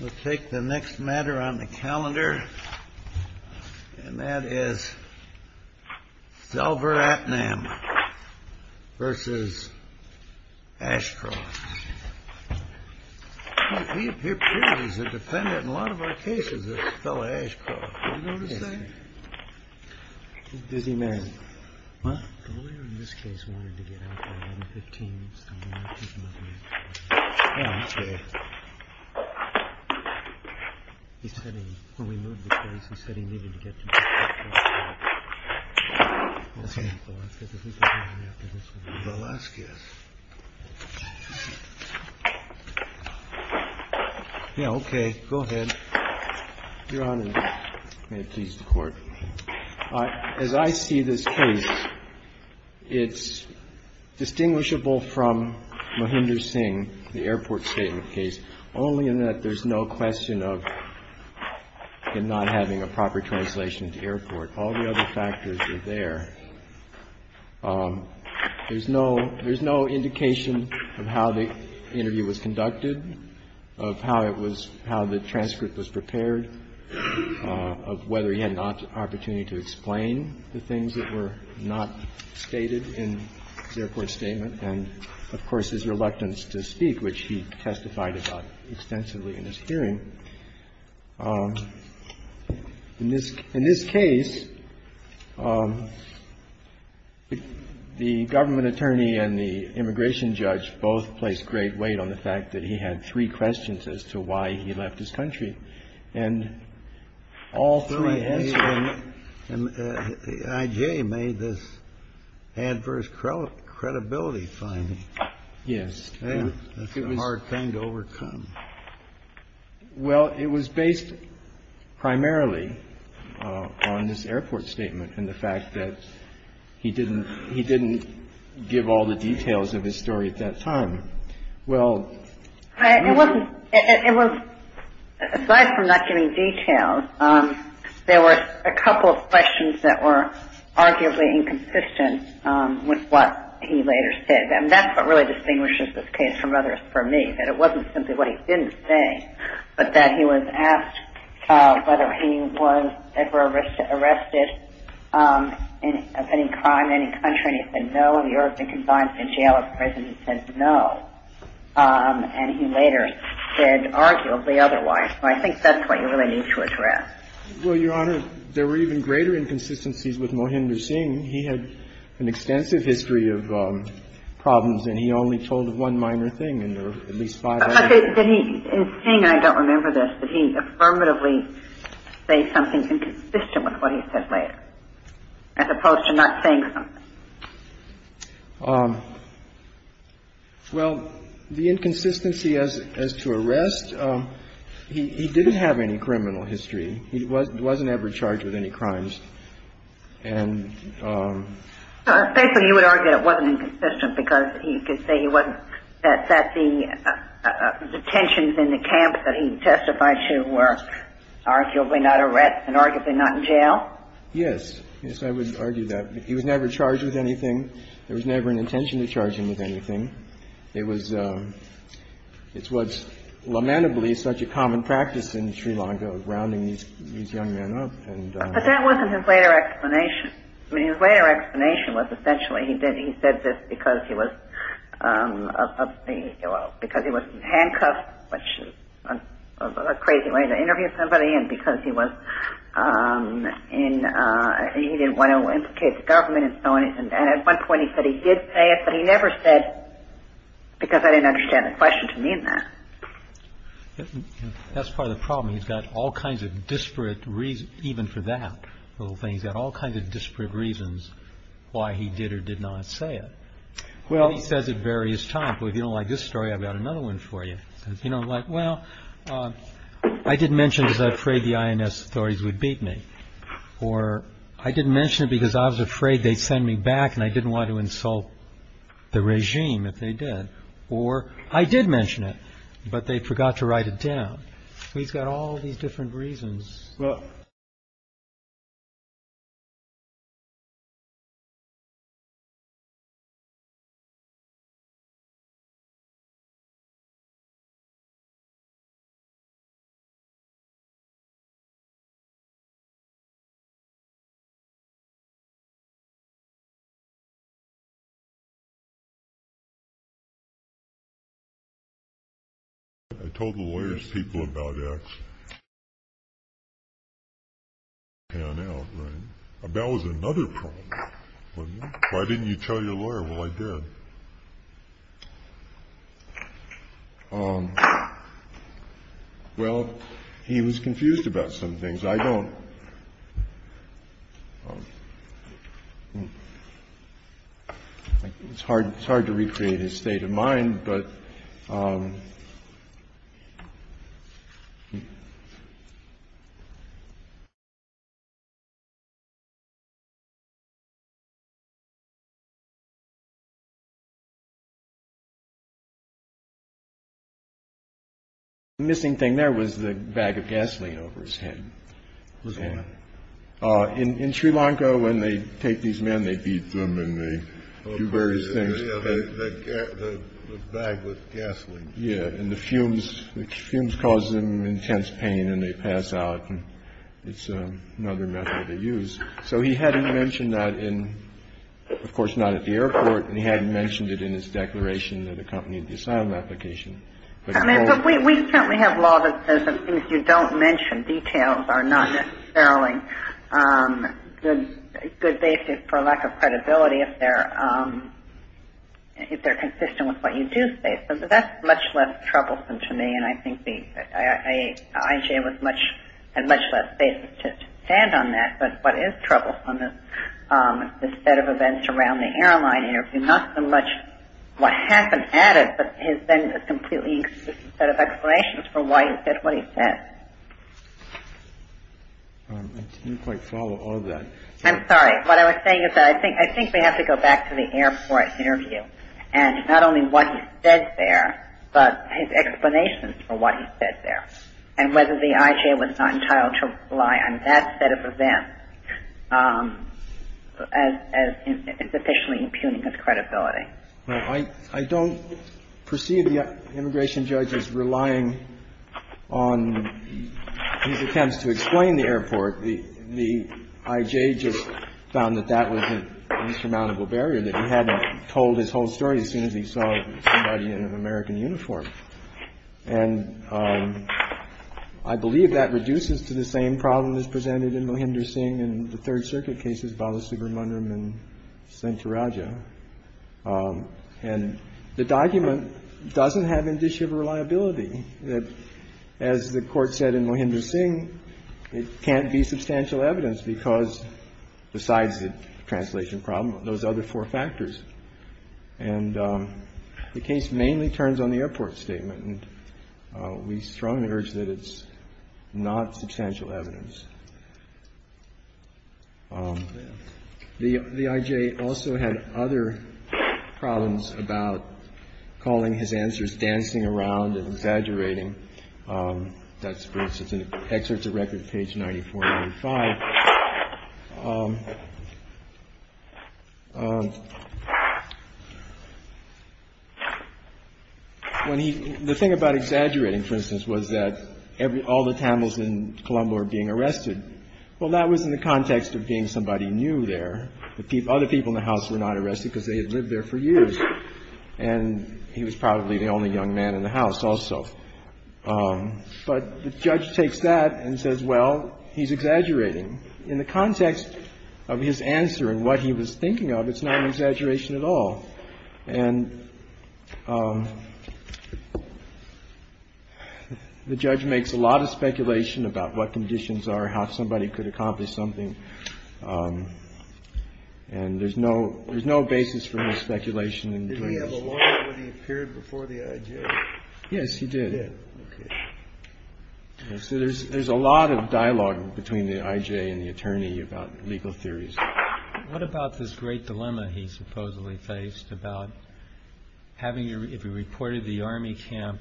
We'll take the next matter on the calendar. And that is Selvaratnam v. Ashcroft. He appears to be a defendant in a lot of our cases, this fellow Ashcroft. Did you notice that? He's a busy man. What? The lawyer in this case wanted to get out by 11.15. Oh, okay. He said he, when we moved the case, he said he needed to get to... Okay. The last case. Yeah, okay. Go ahead. Your Honor, may it please the Court. As I see this case, it's distinguishable from Mahinder Singh, the airport statement case, only in that there's no question of him not having a proper translation to airport. All the other factors are there. There's no indication of how the interview was conducted, of how it was, how the transcript was prepared, of whether he had an opportunity to explain the things that were not stated in the airport statement, and, of course, his reluctance to speak, which he testified about extensively in his hearing. In this case, the government attorney and the immigration judge both placed great weight on the fact that he had three questions as to why he left his country. And all three answered... And I.J. made this adverse credibility finding. Yes. That's a hard thing to overcome. Well, it was based primarily on this airport statement and the fact that he didn't give all the details of his story at that time. Well... It wasn't... Aside from not giving details, there were a couple of questions that were arguably inconsistent with what he later said. And that's what really distinguishes this case from others for me, that it wasn't simply what he didn't say, but that he was asked whether he was ever arrested of any crime in any country, and he said no. He ought to have been confined to a jail or prison. He said no. And he later said arguably otherwise. So I think that's what you really need to address. Well, Your Honor, there were even greater inconsistencies with Mohinder Singh. He had an extensive history of problems, and he only told of one minor thing, and there were at least five other things. But did he, in saying I don't remember this, did he affirmatively say something inconsistent with what he said later, as opposed to not saying something? Well, the inconsistency as to arrest, he didn't have any criminal history. He wasn't ever charged with any crimes. And... Basically, you would argue that it wasn't inconsistent because you could say he wasn't. That the detentions in the camp that he testified to were arguably not arrests and arguably not in jail? Yes. Yes, I would argue that. He was never charged with anything. There was never an intention to charge him with anything. It was lamentably such a common practice in Sri Lanka of rounding these young men up. But that wasn't his later explanation. I mean, his later explanation was essentially he said this because he was handcuffed, which is a crazy way to interview somebody, and because he didn't want to implicate the government in so anything. And at one point he said he did say it, but he never said because I didn't understand the question to mean that. That's part of the problem. He's got all kinds of disparate reasons, even for that little thing. He's got all kinds of disparate reasons why he did or did not say it. He says it various times, but if you don't like this story, I've got another one for you. You know, like, well, I didn't mention it because I was afraid the INS authorities would beat me. Or I didn't mention it because I was afraid they'd send me back and I didn't want to insult the regime if they did. Or I did mention it, but they forgot to write it down. He's got all these different reasons. I told the lawyer's people about X. That was another problem, wasn't it? Why didn't you tell your lawyer? I did. I did. I did. I did. I did. I did. I did. I did. What else did he have with me? No other things? Well, he was confused about some things. I don't. But the missing thing there was the bag of gasoline over his head. What's that? In Sri Lanka, when they take these men, they beat them and they do various things. The bag with gasoline. Yeah, and the fumes cause them intense pain and they pass out. It's another method of use. So he hadn't mentioned that in, of course, not at the airport, and he hadn't mentioned it in his declaration of the company design application. But we certainly have law that says that things you don't mention, details, are not necessarily good basis for lack of credibility if they're consistent with what you do say. So that's much less troublesome to me, and I think IJ had much less basis to stand on that. But what is troublesome is the set of events around the airline interview. Not so much what happened at it, but his then completely inconsistent set of explanations for why he said what he said. I didn't quite follow all of that. I'm sorry. What I was saying is that I think we have to go back to the airport interview and not only what he said there, but his explanations for what he said there and whether the IJ was not entitled to rely on that set of events as sufficiently impugning his credibility. Well, I don't perceive the immigration judge as relying on his attempts to explain the airport. The IJ just found that that was an insurmountable barrier, that he hadn't told his whole story as soon as he saw somebody in an American uniform. And I believe that reduces to the same problem as presented in Mohinder Singh and the Third Circuit cases, Balasubramaniam and Sancharaja. And the document doesn't have indicia of reliability. As the Court said in Mohinder Singh, it can't be substantial evidence because besides the translation problem, those other four factors. And the case mainly turns on the airport statement. And we strongly urge that it's not substantial evidence. The IJ also had other problems about calling his answers dancing around and exaggerating. That's, for instance, an excerpt directed to page 9495. The thing about exaggerating, for instance, was that all the Tamils in Colombo are being arrested. Well, that was in the context of being somebody new there. The other people in the house were not arrested because they had lived there for years. And he was probably the only young man in the house also. But the judge takes that and says, well, he's exaggerating. In the context of his answer and what he was thinking of, it's not an exaggeration at all. And the judge makes a lot of speculation about what conditions are, how somebody could accomplish something. And there's no there's no basis for speculation. Did he have a lawyer when he appeared before the IJ? Yes, he did. So there's there's a lot of dialogue between the IJ and the attorney about legal theories. What about this great dilemma he supposedly faced about having if he reported the army camp,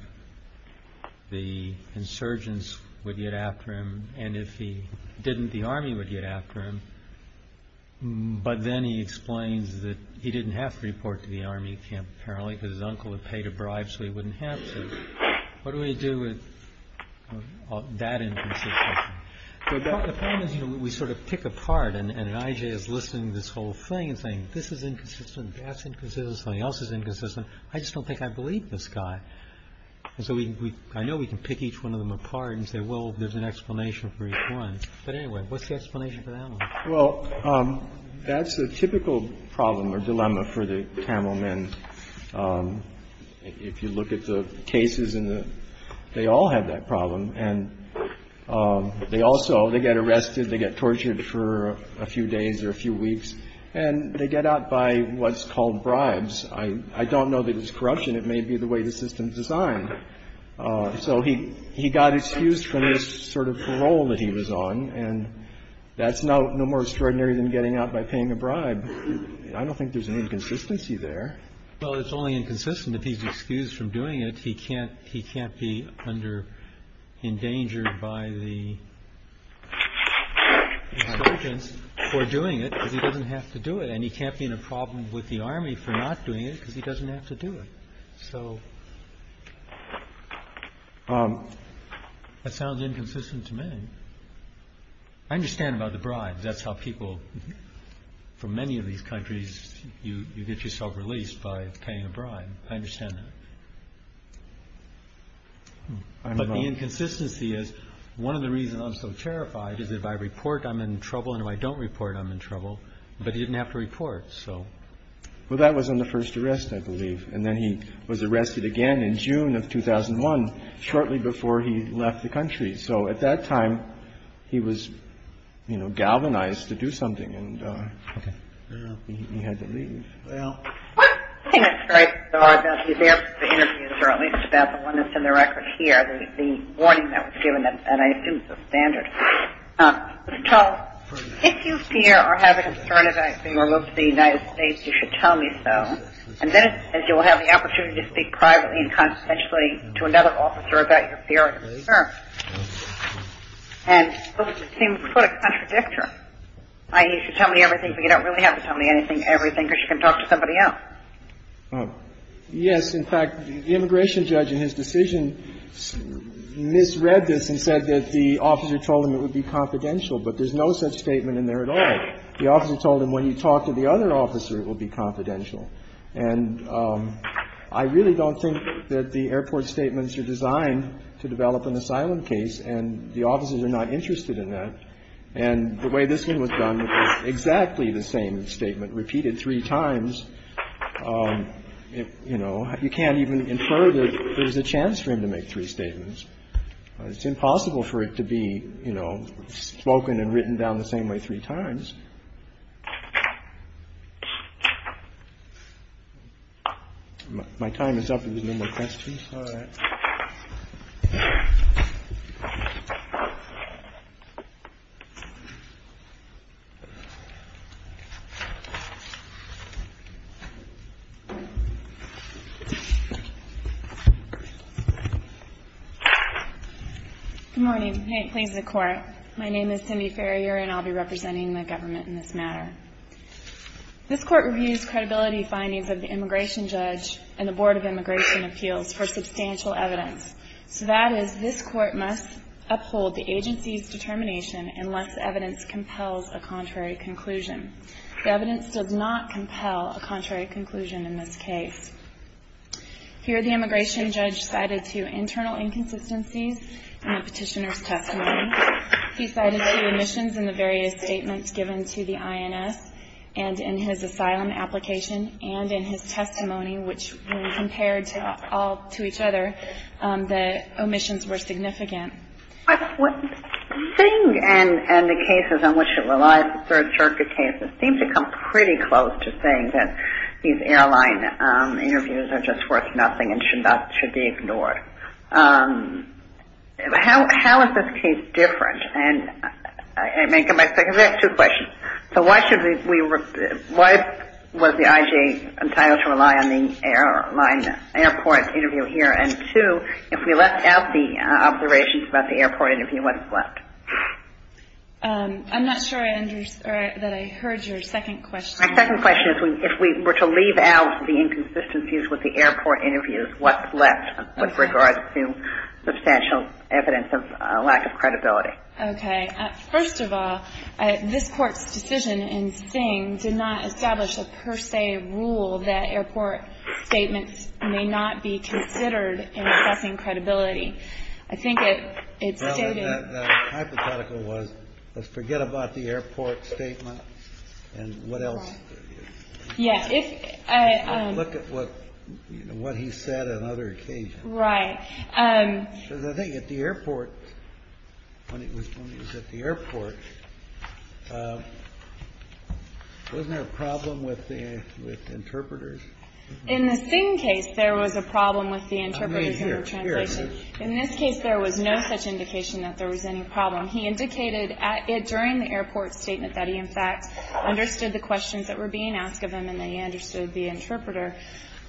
the insurgents would get after him. And if he didn't, the army would get after him. But then he explains that he didn't have to report to the army camp, apparently, because his uncle had paid a bribe so he wouldn't have to. What do we do with that inconsistency? The point is, you know, we sort of pick apart. And an IJ is listening to this whole thing and saying, this is inconsistent. That's inconsistent. Something else is inconsistent. I just don't think I believe this guy. So I know we can pick each one of them apart and say, well, there's an explanation for each one. But anyway, what's the explanation for that? Well, that's a typical problem or dilemma for the Tamil men. If you look at the cases in the they all have that problem. And they also they get arrested. They get tortured for a few days or a few weeks and they get out by what's called bribes. I don't know that it's corruption. It may be the way the system is designed. So he he got excused from this sort of role that he was on. And that's no no more extraordinary than getting out by paying a bribe. I don't think there's an inconsistency there. Well, it's only inconsistent if he's excused from doing it. He can't he can't be under endangered by the surgeons for doing it because he doesn't have to do it. And he can't be in a problem with the army for not doing it because he doesn't have to do it. So that sounds inconsistent to me. I understand about the bribes. That's how people from many of these countries. You get yourself released by paying a bribe. I understand that. But the inconsistency is one of the reasons I'm so terrified is if I report I'm in trouble and I don't report I'm in trouble. But he didn't have to report. So. Well, that was in the first arrest, I believe. And then he was arrested again in June of 2001, shortly before he left the country. So at that time he was, you know, galvanized to do something. And he had to leave. Well, I think it's great that he's there for the interview. It's about the one that's in the record here, the warning that was given. And I think it's a standard. Mr. Tull, if you fear or have a concern about your move to the United States, you should tell me so. And then you will have the opportunity to speak privately and consistently to another officer about your fear and concern. And it seems quite a contradiction. I mean, you should tell me everything, but you don't really have to tell me anything, everything, because you can talk to somebody else. Yes. In fact, the immigration judge in his decision misread this and said that the officer told him it would be confidential. But there's no such statement in there at all. The officer told him when you talk to the other officer, it will be confidential. And I really don't think that the airport statements are designed to develop an asylum case. And the officers are not interested in that. And the way this one was done was exactly the same statement repeated three times. You know, you can't even infer that there's a chance for him to make three statements. It's impossible for it to be, you know, spoken and written down the same way three times. My time is up. There's no more questions. All right. Thank you. Good morning. May it please the Court. My name is Cindy Ferrier, and I'll be representing the government in this matter. This Court reviews credibility findings of the immigration judge and the Board of Immigration Appeals for substantial evidence. So that is, this Court must uphold the agency's determination unless evidence compels a contrary conclusion. The evidence does not compel a contrary conclusion in this case. Here, the immigration judge cited two internal inconsistencies in the petitioner's testimony. He cited two omissions in the various statements given to the INS, and in his asylum application, and in his testimony, which when compared all to each other, the omissions were significant. Singh and the cases on which it relies, the Third Circuit cases, seem to come pretty close to saying that these airline interviews are just worth nothing and should be ignored. How is this case different? And may I come back to that? Because I have two questions. So why was the IJA entitled to rely on the airline airport interview here? And two, if we left out the observations about the airport interview, what's left? I'm not sure that I heard your second question. My second question is, if we were to leave out the inconsistencies with the airport interviews, what's left with regards to substantial evidence of lack of credibility? Okay. First of all, this Court's decision in Singh did not establish a per se rule that airport statements may not be considered in assessing credibility. I think it stated — That hypothetical was, let's forget about the airport statement, and what else? Yeah. Look at what he said on other occasions. Right. Because I think at the airport, when he was at the airport, wasn't there a problem with the interpreters? In the Singh case, there was a problem with the interpreters and the translation. In this case, there was no such indication that there was any problem. He indicated during the airport statement that he, in fact, understood the questions that were being asked of him and that he understood the interpreter.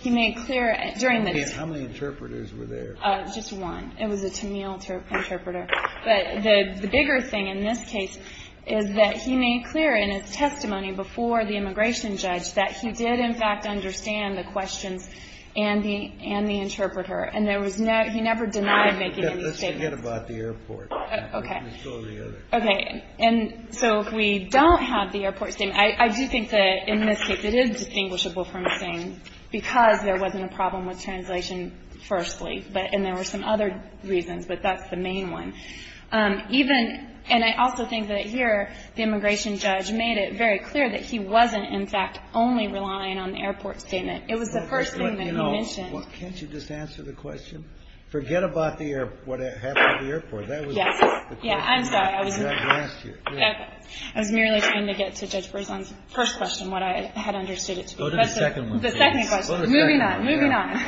He made clear during the — How many interpreters were there? Just one. It was a Tennille interpreter. But the bigger thing in this case is that he made clear in his testimony before the immigration judge that he did, in fact, understand the questions and the interpreter. And there was no — he never denied making any statements. Let's forget about the airport. Okay. Let's go to the other. Okay. And so if we don't have the airport statement — I do think that in this case it is distinguishable from Singh because there wasn't a problem with translation, firstly, but — and there were some other reasons, but that's the main one. Even — and I also think that here the immigration judge made it very clear that he wasn't, in fact, only relying on the airport statement. It was the first thing that he mentioned. Well, can't you just answer the question? Forget about the airport — what happened at the airport. That was — Yes. Yeah. I'm sorry. I was merely trying to get to Judge Berzon's first question, what I had understood it to be. Go to the second one, please. The second question. Moving on. Moving on. Go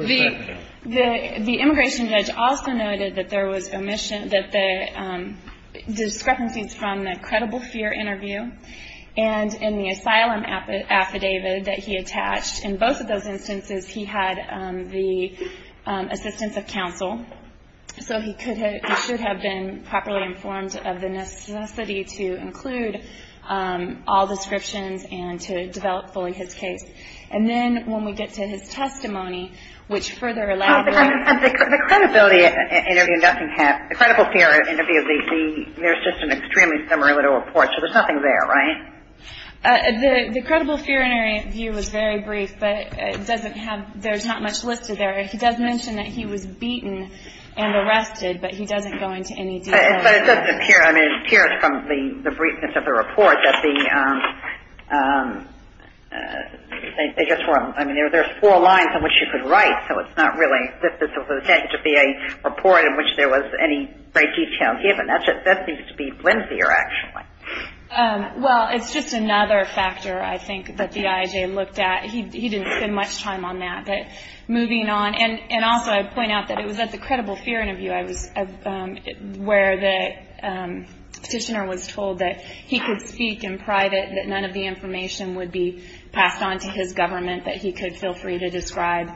to the second one. The immigration judge also noted that there was omission — that the discrepancies from the credible fear interview and in the asylum affidavit that he attached, in both of those instances he had the assistance of counsel. So he could have — he should have been properly informed of the necessity to include all descriptions and to develop fully his case. And then when we get to his testimony, which further elaborates — The credibility interview doesn't have — the credible fear interview, there's just an extremely similar little report. So there's nothing there, right? The credible fear interview was very brief, but it doesn't have — there's not much listed there. He does mention that he was beaten and arrested, but he doesn't go into any detail. But it doesn't appear — I mean, it appears from the briefness of the report that the — I mean, there's four lines in which you could write, so it's not really that this was intended to be a report in which there was any great detail given. That seems to be lengthier, actually. Well, it's just another factor, I think, that the IAJ looked at. He didn't spend much time on that. But moving on — and also I'd point out that it was at the credible fear interview I was — where the petitioner was told that he could speak in private, that none of the information would be passed on to his government, that he could feel free to describe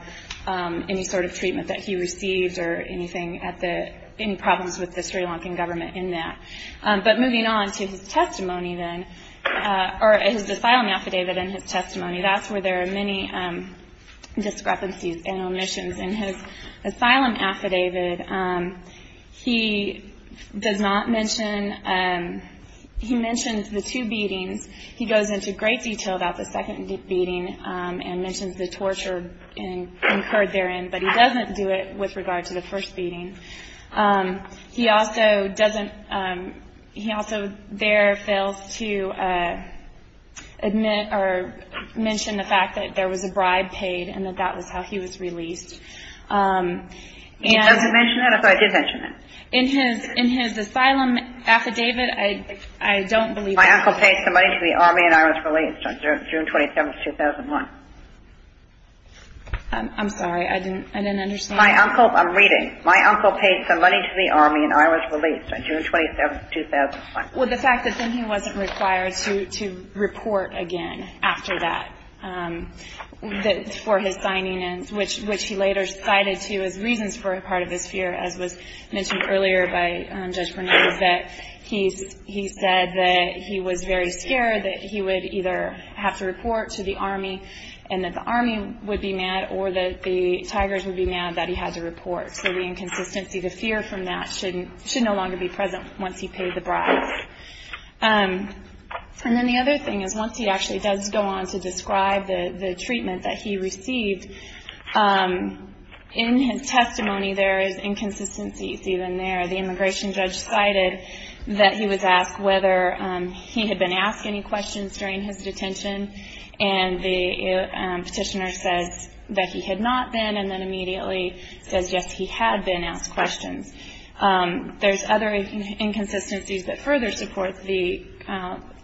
any sort of treatment that he received or anything at the — any problems with the Sri Lankan government in that. But moving on to his testimony, then — or his asylum affidavit and his testimony, that's where there are many discrepancies and omissions. In his asylum affidavit, he does not mention — he mentions the two beatings. He goes into great detail about the second beating and mentions the torture incurred therein, but he doesn't do it with regard to the first beating. He also doesn't — he also there fails to admit or mention the fact that there was a bribe paid and that that was how he was released. He doesn't mention that? I thought he did mention that. In his asylum affidavit, I don't believe that. My uncle paid some money to the Army and I was released on June 27, 2001. I'm sorry. I didn't understand. My uncle — I'm reading. My uncle paid some money to the Army and I was released on June 27, 2001. Well, the fact that then he wasn't required to report again after that for his signing, which he later cited to as reasons for a part of his fear, as was mentioned earlier by Judge Bernardo, that he said that he was very scared that he would either have to report to the Army and that the Army would be mad or that the Tigers would be mad that he had to report. So the inconsistency, the fear from that should no longer be present once he paid the bribes. And then the other thing is once he actually does go on to describe the treatment that he received, in his testimony there is inconsistencies even there. The immigration judge cited that he was asked whether he had been asked any questions during his detention and the petitioner says that he had not been and then immediately says, yes, he had been asked questions. There's other inconsistencies that further support the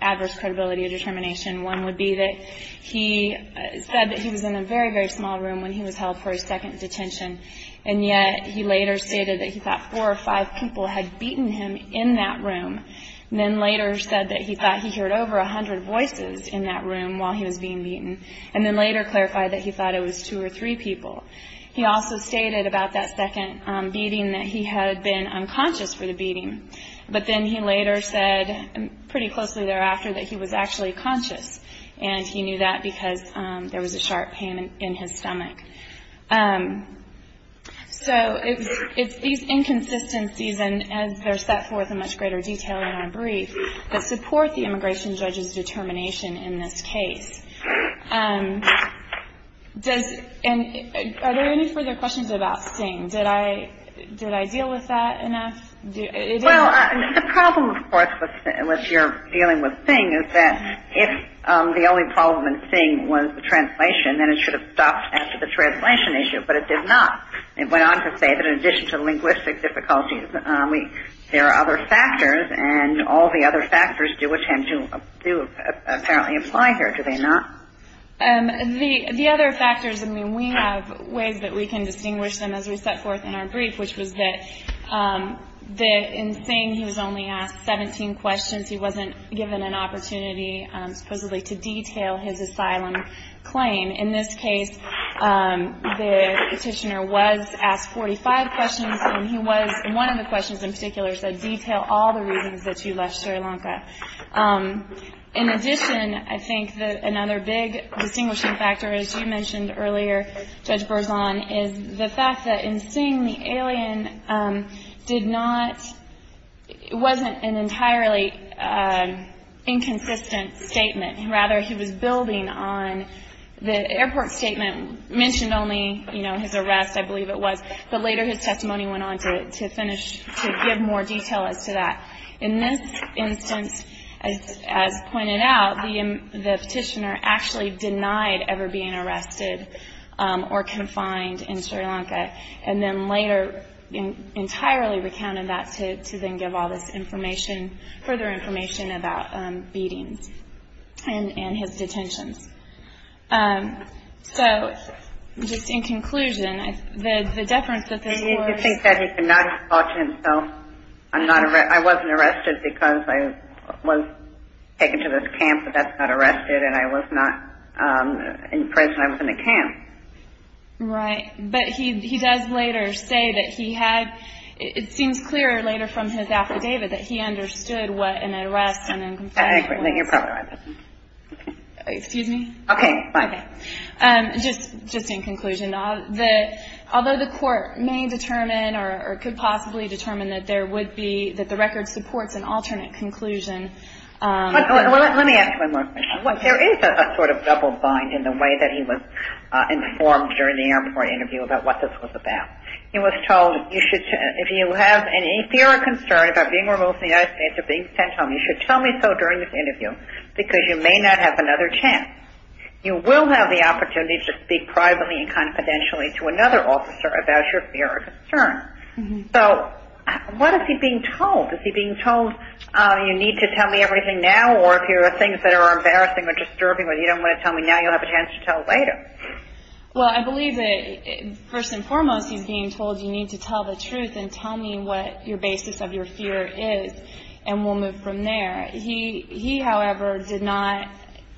adverse credibility of determination. One would be that he said that he was in a very, very small room when he was held for his second detention and yet he later stated that he thought four or five people had beaten him in that room and then later said that he thought he heard over a hundred voices in that room while he was being beaten and then later clarified that he thought it was two or three people. He also stated about that second beating that he had been unconscious for the beating, but then he later said pretty closely thereafter that he was actually conscious and he knew that because there was a sharp pain in his stomach. So it's these inconsistencies and as they're set forth in much greater detail in our brief that support the immigration judge's determination in this case. Are there any further questions about Singh? Did I deal with that enough? Well, the problem, of course, with your dealing with Singh is that if the only problem in Singh was the translation, then it should have stopped after the translation issue, but it did not. It went on to say that in addition to linguistic difficulties, there are other factors and all the other factors do apparently apply here, do they not? The other factors, I mean, we have ways that we can distinguish them as we set forth in our brief, which was that in Singh he was only asked 17 questions. He wasn't given an opportunity supposedly to detail his asylum claim. In this case, the petitioner was asked 45 questions, and one of the questions in particular said detail all the reasons that you left Sri Lanka. In addition, I think that another big distinguishing factor, as you mentioned earlier, Judge Berzon, is the fact that in Singh the alien did not, wasn't an entirely inconsistent statement. Rather, he was building on the airport statement, mentioned only, you know, his arrest, I believe it was, but later his testimony went on to finish, to give more detail as to that. In this instance, as pointed out, the petitioner actually denied ever being arrested or confined in Sri Lanka, and then later entirely recounted that to then give all this information, further information about beatings and his detentions. So just in conclusion, the deference that this was- Well, as Singh said, he did not expose himself. I'm not, I wasn't arrested because I was taken to this camp, but that's not arrested, and I was not in prison, I was in a camp. Right. But he does later say that he had, it seems clearer later from his affidavit, that he understood what an arrest and a confinement was. I think you're probably right. Excuse me? Okay, fine. Just in conclusion, although the court may determine or could possibly determine that there would be, that the record supports an alternate conclusion- Let me ask you one more question. There is a sort of double bind in the way that he was informed during the airport interview about what this was about. He was told, if you have any fear or concern about being removed from the United States or being sent home, you should tell me so during this interview because you may not have another chance. You will have the opportunity to speak privately and confidentially to another officer about your fear or concern. So what is he being told? Is he being told, you need to tell me everything now, or if there are things that are embarrassing or disturbing or you don't want to tell me now, you'll have a chance to tell later. Well, I believe that, first and foremost, he's being told you need to tell the truth and tell me what your basis of your fear is, and we'll move from there. He, however, did not,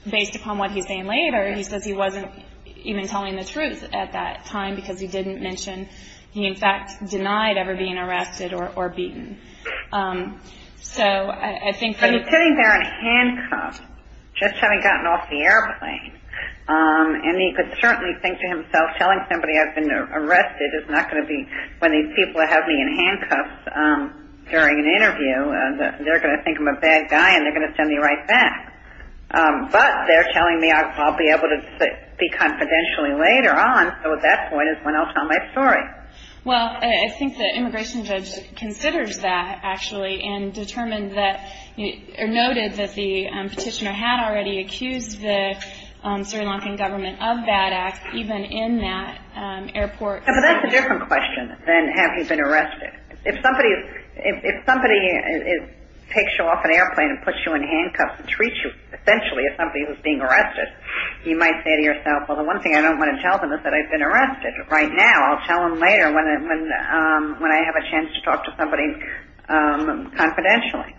based upon what he's saying later, he says he wasn't even telling the truth at that time because he didn't mention, he in fact denied ever being arrested or beaten. So I think- But he's sitting there in handcuffs, just having gotten off the airplane, and he could certainly think to himself, telling somebody I've been arrested is not going to be when these people have me in handcuffs during an interview. They're going to think I'm a bad guy, and they're going to send me right back. But they're telling me I'll be able to speak confidentially later on, so at that point is when I'll tell my story. Well, I think the immigration judge considers that, actually, and determined that, or noted that the petitioner had already accused the Sri Lankan government of that act, even in that airport. But that's a different question than have he been arrested. If somebody takes you off an airplane and puts you in handcuffs and treats you essentially as somebody who's being arrested, he might say to yourself, well, the one thing I don't want to tell them is that I've been arrested right now. I'll tell them later when I have a chance to talk to somebody confidentially.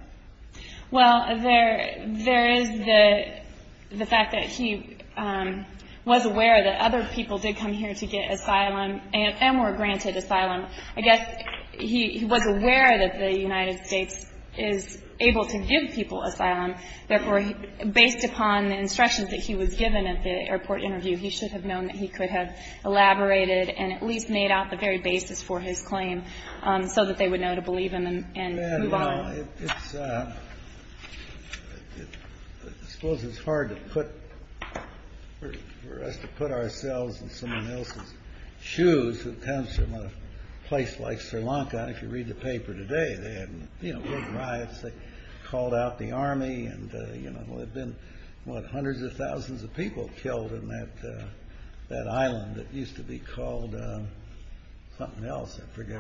Well, there is the fact that he was aware that other people did come here to get asylum and were granted asylum. I guess he was aware that the United States is able to give people asylum. Therefore, based upon the instructions that he was given at the airport interview, he should have known that he could have elaborated and at least made out the very basis for his claim so that they would know to believe him and move on. Well, I suppose it's hard for us to put ourselves in someone else's shoes that comes from a place like Sri Lanka. If you read the paper today, they had, you know, big riots. They called out the army. And, you know, there have been, what, hundreds of thousands of people killed in that island that used to be called something else. I forget.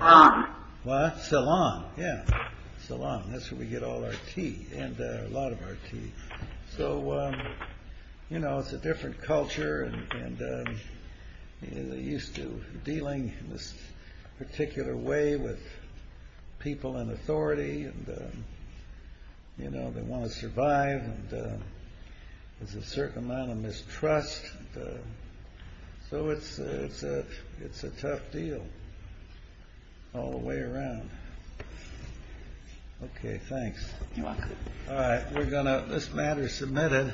Ceylon. Yeah, Ceylon. That's where we get all our tea and a lot of our tea. So, you know, it's a different culture. And they're used to dealing in this particular way with people in authority. And, you know, they want to survive. And there's a certain amount of mistrust. So it's a tough deal all the way around. Okay, thanks. You're welcome. All right, we're going to, this matter is submitted.